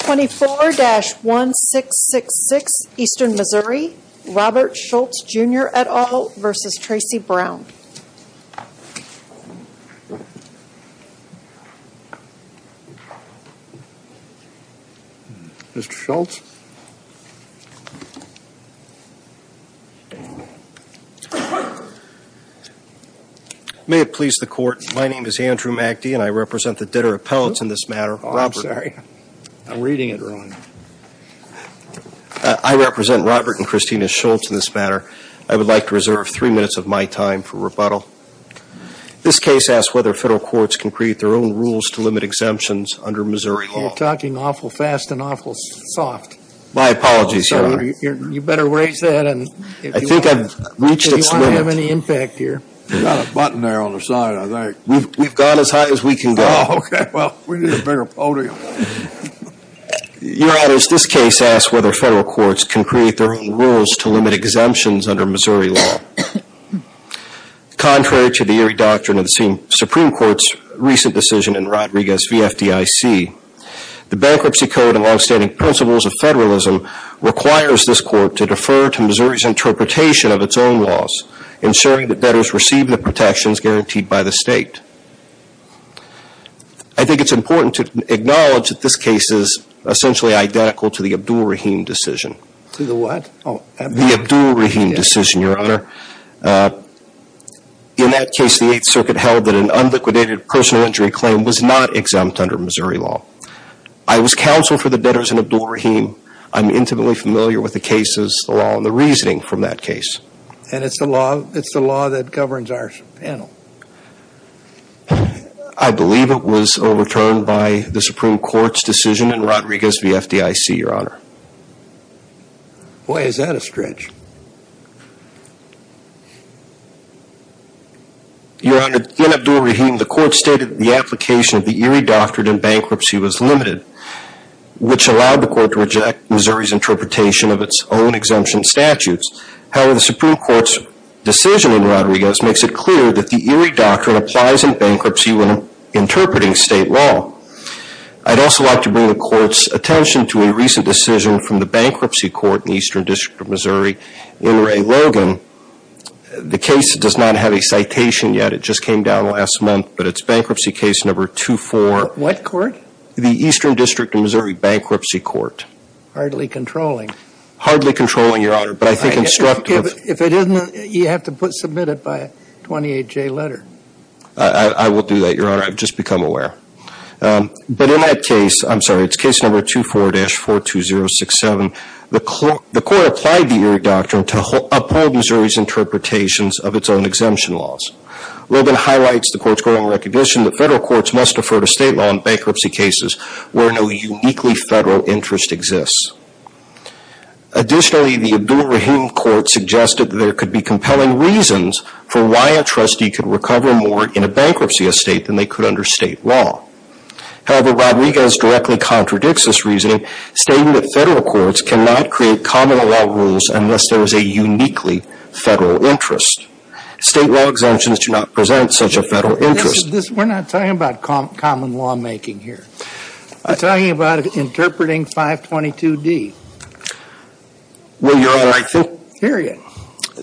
24-1666 Eastern Missouri, Robert Shoults, Jr. et al. v. Tracy Brown Mr. Shoults? May it please the Court, my name is Andrew MacDee and I represent the debtor appellates in this matter, Robert. I'm sorry, I'm reading it wrong. I represent Robert and Christina Shoults in this matter. I would like to reserve three minutes of my time for rebuttal. This case asks whether federal courts can create their own rules to limit exemptions under Missouri law. You're talking awful fast and awful soft. My apologies, Your Honor. You better raise that and if you want to have any impact here. You've got a button there on the side, I think. We've gone as high as we can go. Okay, well, we need a bigger podium. Your Honor, this case asks whether federal courts can create their own rules to limit exemptions under Missouri law. Contrary to the eerie doctrine of the Supreme Court's recent decision in Rodriguez v. FDIC, the Bankruptcy Code and long-standing principles of federalism requires this court to defer to Missouri's interpretation of its own laws, ensuring that debtors receive the protections guaranteed by the state. I think it's important to acknowledge that this case is essentially identical to the Abdul Rahim decision. To the what? The Abdul Rahim decision, Your Honor. In that case, the Eighth Circuit held that an unliquidated personal injury claim was not exempt under Missouri law. I was counsel for the debtors in Abdul Rahim. I'm intimately familiar with the cases, the law, and the reasoning from that case. And it's the law that governs our panel. I believe it was overturned by the Supreme Court's decision in Rodriguez v. FDIC, Your Honor. Boy, is that a stretch. Your Honor, in Abdul Rahim, the court stated the application of the eerie doctrine in bankruptcy was limited, which allowed the court to reject Missouri's interpretation of its own exemption statutes. However, the Supreme Court's decision in Rodriguez makes it clear that the eerie doctrine applies in bankruptcy when interpreting state law. I'd also like to bring the court's attention to a recent decision from the Bankruptcy Court in the Eastern District of Missouri. In Ray Logan, the case does not have a citation yet. It just came down last month, but it's Bankruptcy Case Number 24. What court? The Eastern District of Missouri Bankruptcy Court. Hardly controlling. Hardly controlling, Your Honor, but I think instructive. If it isn't, you have to submit it by a 28-J letter. I will do that, Your Honor. I've just become aware. But in that case, I'm sorry, it's Case Number 24-42067. The court applied the eerie doctrine to uphold Missouri's interpretations of its own exemption laws. Logan highlights the court's growing recognition that federal courts must defer to state law in bankruptcy cases where no uniquely federal interest exists. Additionally, the Abdul Rahim Court suggested that there could be compelling reasons for why a trustee could recover more in a bankruptcy estate than they could under state law. However, Rodriguez directly contradicts this reasoning, stating that federal courts cannot create common law rules unless there is a uniquely federal interest. State law exemptions do not present such a federal interest. We're not talking about common lawmaking here. We're talking about interpreting 522D. Well, Your Honor, I think. Period.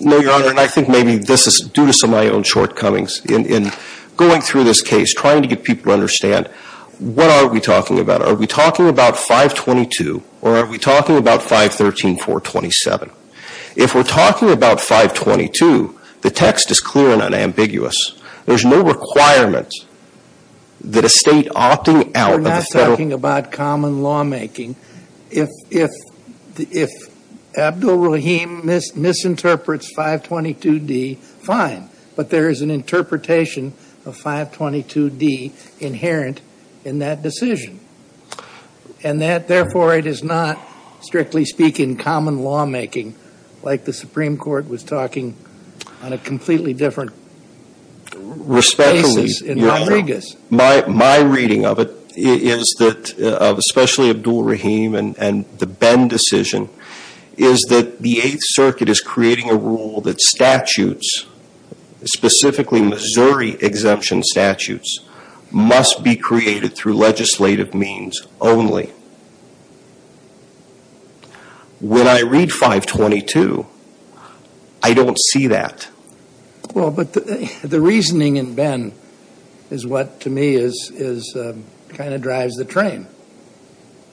No, Your Honor, and I think maybe this is due to some of my own shortcomings in going through this case, trying to get people to understand what are we talking about. Are we talking about 522, or are we talking about 513-427? If we're talking about 522, the text is clear and unambiguous. There's no requirement that a state opting out of the federal. We're not talking about common lawmaking. If Abdul Rahim misinterprets 522D, fine. But there is an interpretation of 522D inherent in that decision. And that, therefore, it is not, strictly speaking, common lawmaking, like the Supreme Court was talking on a completely different basis in Rodriguez. Respectfully, Your Honor, my reading of it is that, especially Abdul Rahim and the Bend decision, is that the Eighth Circuit is creating a rule that statutes, specifically Missouri exemption statutes, must be created through legislative means only. When I read 522, I don't see that. Well, but the reasoning in Bend is what, to me, kind of drives the train.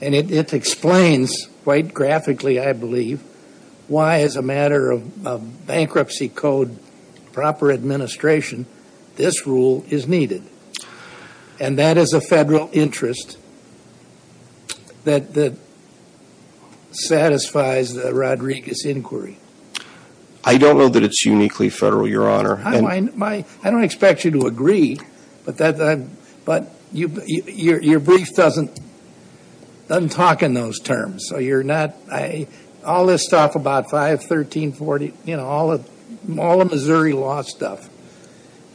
And it explains, quite graphically, I believe, why, as a matter of bankruptcy code proper administration, this rule is needed. And that is a federal interest that satisfies the Rodriguez inquiry. I don't know that it's uniquely federal, Your Honor. I don't expect you to agree, but your brief doesn't talk in those terms. So all this stuff about 5, 13, 14, you know, all the Missouri law stuff,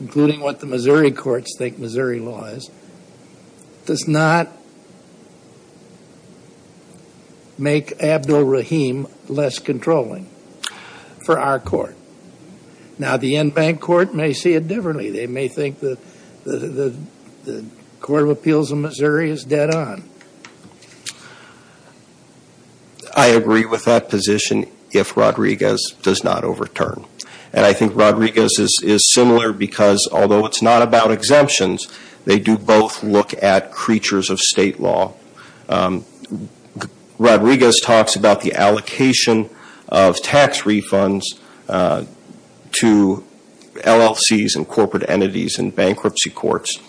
including what the Missouri courts think Missouri law is, does not make Abdul Rahim less controlling for our court. Now, the in-bank court may see it differently. They may think that the Court of Appeals of Missouri is dead on. I agree with that position if Rodriguez does not overturn. And I think Rodriguez is similar because, although it's not about exemptions, they do both look at creatures of state law. Rodriguez talks about the allocation of tax refunds to LLCs and corporate entities and bankruptcy courts.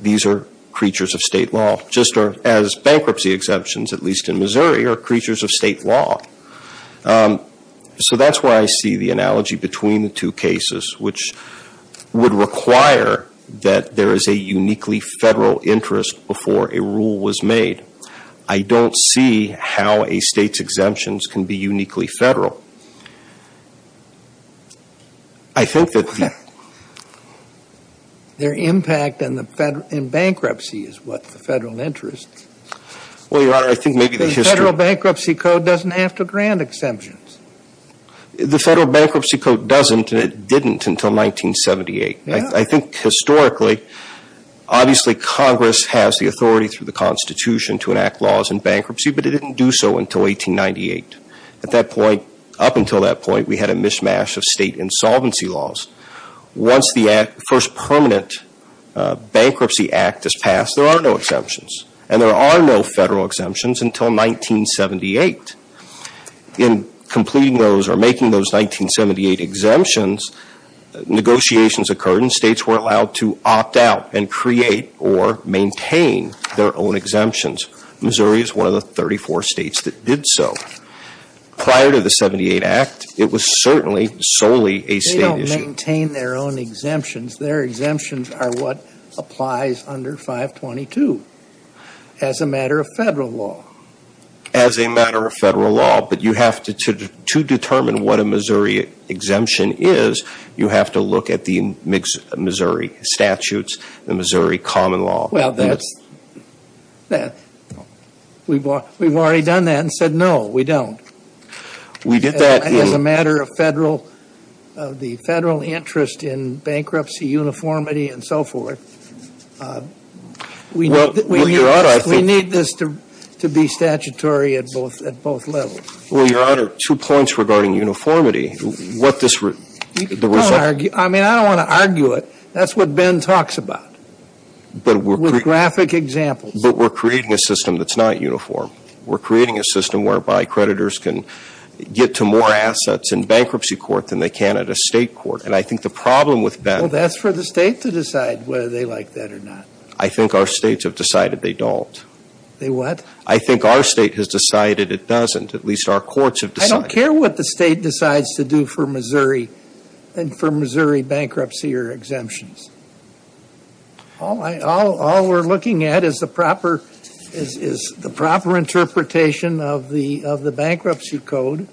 These are creatures of state law, just as bankruptcy exemptions, at least in Missouri, are creatures of state law. So that's where I see the analogy between the two cases, which would require that there is a uniquely federal interest before a rule was made. I don't see how a state's exemptions can be uniquely federal. I think that the... Their impact in bankruptcy is what the federal interest. Well, Your Honor, I think maybe the history... The federal bankruptcy code doesn't have to grant exemptions. The federal bankruptcy code doesn't, and it didn't until 1978. I think historically, obviously Congress has the authority through the Constitution to enact laws in bankruptcy, but it didn't do so until 1898. At that point, up until that point, we had a mishmash of state insolvency laws. Once the first permanent bankruptcy act is passed, there are no exemptions. And there are no federal exemptions until 1978. In completing those or making those 1978 exemptions, negotiations occurred and states were allowed to opt out and create or maintain their own exemptions. Missouri is one of the 34 states that did so. Prior to the 78 Act, it was certainly solely a state issue. They don't maintain their own exemptions. Their exemptions are what applies under 522 as a matter of federal law. But to determine what a Missouri exemption is, you have to look at the Missouri statutes, the Missouri common law. Well, we've already done that and said no, we don't. We did that in... As a matter of the federal interest in bankruptcy, uniformity, and so forth. We need this to be statutory at both levels. Well, Your Honor, two points regarding uniformity. I mean, I don't want to argue it. That's what Ben talks about with graphic examples. But we're creating a system that's not uniform. We're creating a system whereby creditors can get to more assets in bankruptcy court than they can at a state court. And I think the problem with Ben... Well, that's for the state to decide whether they like that or not. I think our states have decided they don't. They what? I think our state has decided it doesn't. At least our courts have decided... I don't care what the state decides to do for Missouri bankruptcy or exemptions. All we're looking at is the proper interpretation of the bankruptcy code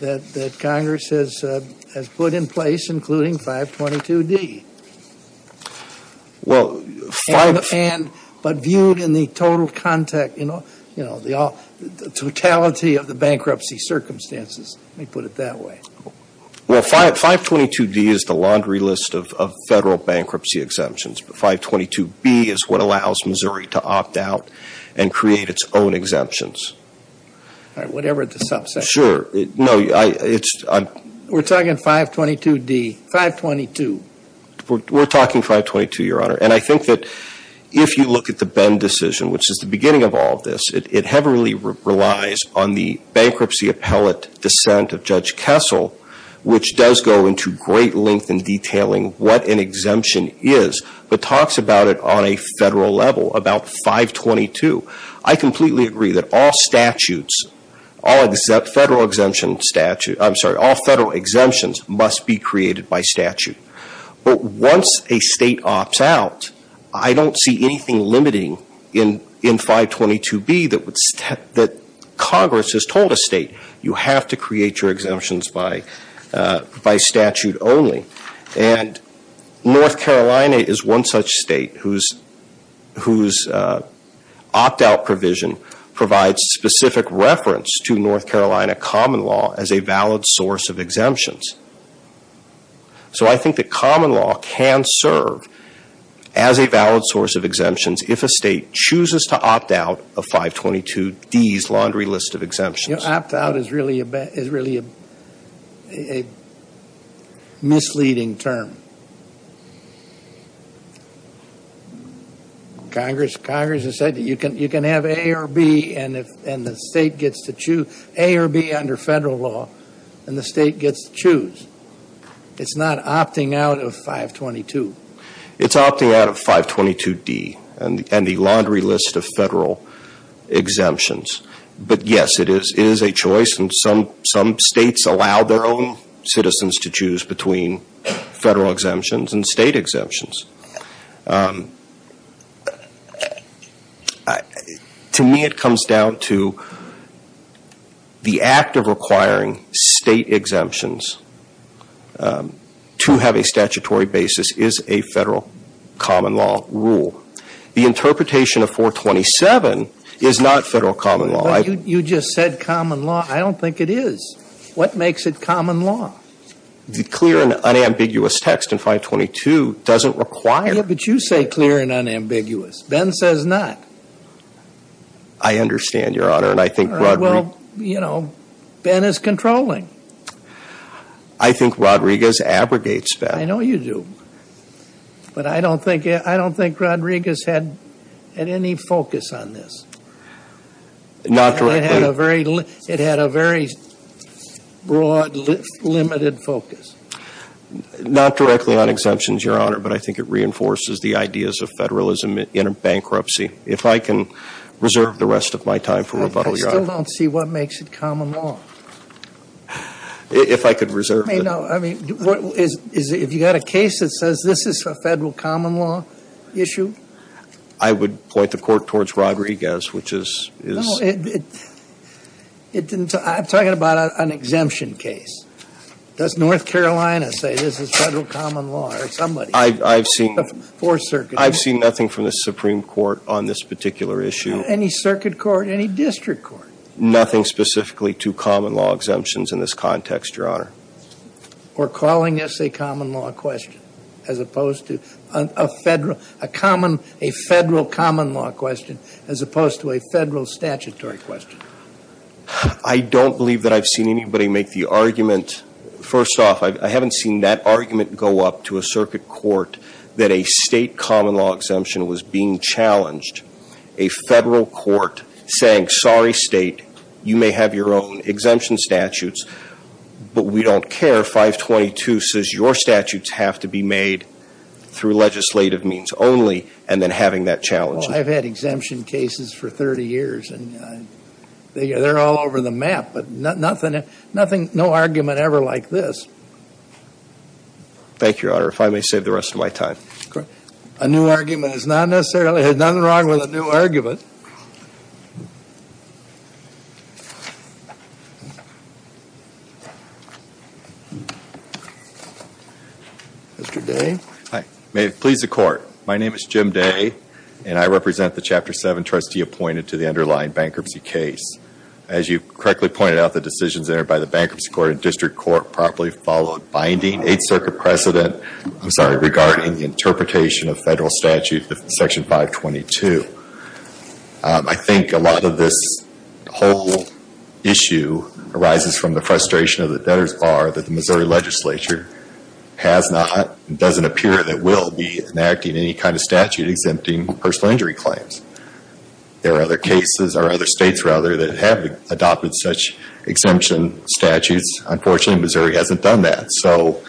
that Congress has put in place, including 522D. Well, 5... But viewed in the total contact, you know, the totality of the bankruptcy circumstances. Let me put it that way. Well, 522D is the laundry list of federal bankruptcy exemptions. But 522B is what allows Missouri to opt out and create its own exemptions. All right. Whatever the subset. No, it's... We're talking 522D. 522. We're talking 522, Your Honor. And I think that if you look at the Ben decision, which is the beginning of all of this, it heavily relies on the bankruptcy appellate dissent of Judge Kessel, which does go into great length in detailing what an exemption is, but talks about it on a federal level, about 522. I completely agree that all statutes, all federal exemptions must be created by statute. But once a state opts out, I don't see anything limiting in 522B that Congress has told a state, you have to create your exemptions by statute only. And North Carolina is one such state whose opt-out provision provides specific reference to North Carolina common law as a valid source of exemptions. So I think that common law can serve as a valid source of exemptions if a state chooses to opt out of 522D's laundry list of exemptions. You know, opt-out is really a misleading term. Congress has said that you can have A or B and the state gets to choose, A or B under federal law, and the state gets to choose. It's not opting out of 522. It's opting out of 522D and the laundry list of federal exemptions. But yes, it is a choice and some states allow their own citizens to choose between federal exemptions and state exemptions. To me, it comes down to the act of requiring state exemptions to have a statutory basis is a federal common law rule. The interpretation of 427 is not federal common law. Well, you just said common law. I don't think it is. What makes it common law? The clear and unambiguous text in 522 doesn't require it. Yeah, but you say clear and unambiguous. Ben says not. I understand, Your Honor, and I think Rodriguez... Well, you know, Ben is controlling. I think Rodriguez abrogates that. I know you do. But I don't think Rodriguez had any focus on this. Not directly. It had a very broad, limited focus. Not directly on exemptions, Your Honor, but I think it reinforces the ideas of federalism in a bankruptcy. If I can reserve the rest of my time for rebuttal, Your Honor. I still don't see what makes it common law. If I could reserve it. I mean, if you've got a case that says this is a federal common law issue... I would point the court towards Rodriguez, which is... No, I'm talking about an exemption case. Does North Carolina say this is federal common law or somebody? I've seen... Fourth Circuit. I've seen nothing from the Supreme Court on this particular issue. Any circuit court, any district court? Nothing specifically to common law exemptions in this context, Your Honor. Or calling this a common law question as opposed to a federal common law question as opposed to a federal statutory question. I don't believe that I've seen anybody make the argument. First off, I haven't seen that argument go up to a circuit court that a state common law exemption was being challenged. A federal court saying, sorry, state, you may have your own exemption statutes, but we don't care. 522 says your statutes have to be made through legislative means only and then having that challenge. Well, I've had exemption cases for 30 years, and they're all over the map, but no argument ever like this. Thank you, Your Honor. If I may save the rest of my time. A new argument is not necessarily, there's nothing wrong with a new argument. Mr. Day. Hi. May it please the Court. My name is Jim Day, and I represent the Chapter 7 trustee appointed to the underlying bankruptcy case. As you correctly pointed out, the decisions entered by the bankruptcy court and district court properly followed binding Eighth Circuit precedent, I'm sorry, regarding the interpretation of federal statute, Section 522. I think a lot of this whole issue arises from the frustration of the debtor's bar that the Missouri legislature has not, doesn't appear that will be, enacting any kind of statute exempting personal injury claims. There are other cases, or other states rather, that have adopted such exemption statutes. Unfortunately, Missouri hasn't done that. And so,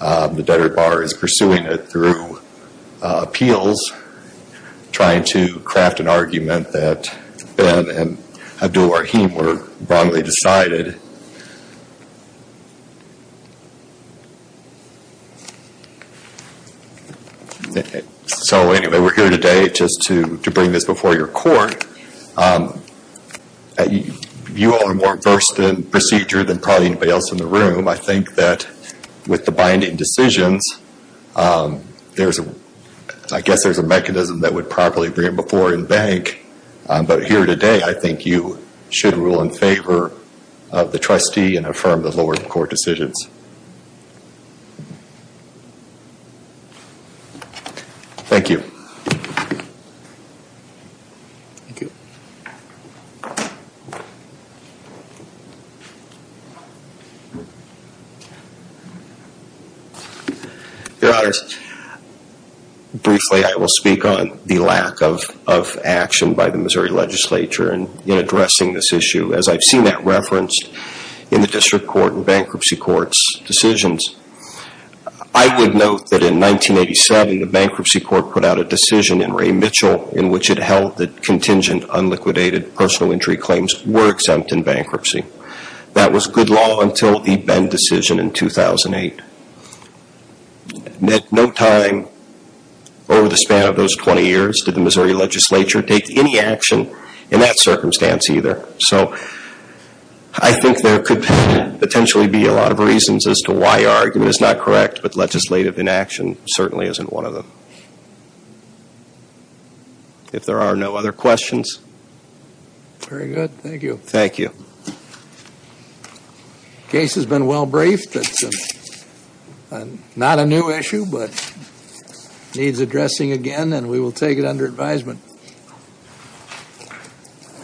the debtor bar is pursuing it through appeals, trying to craft an argument that Ben and Abdul Rahim were wrongly decided. So anyway, we're here today just to bring this before your court. You all are more versed in procedure than probably anybody else in the room. I think that with the binding decisions, there's a, I guess there's a mechanism that would probably bring it before the bank. But here today, I think you should rule in favor of the trustee and affirm the lower court decisions. Thank you. Your Honors, briefly I will speak on the lack of action by the Missouri legislature in addressing this issue, as I've seen that referenced in the District Court and Bankruptcy Court's decisions. I would note that in 1987, the Bankruptcy Court put out a decision in Ray Mitchell in which it held that contingent, unliquidated personal injury claims were exempt in bankruptcy. That was good law until the Ben decision in 2008. At no time over the span of those 20 years did the Missouri legislature take any action in that circumstance either. So, I think there could potentially be a lot of reasons as to why our argument is not correct, but legislative inaction certainly isn't one of them. If there are no other questions. Very good. Thank you. Thank you. Case has been well briefed. Not a new issue, but needs addressing again and we will take it under advisement.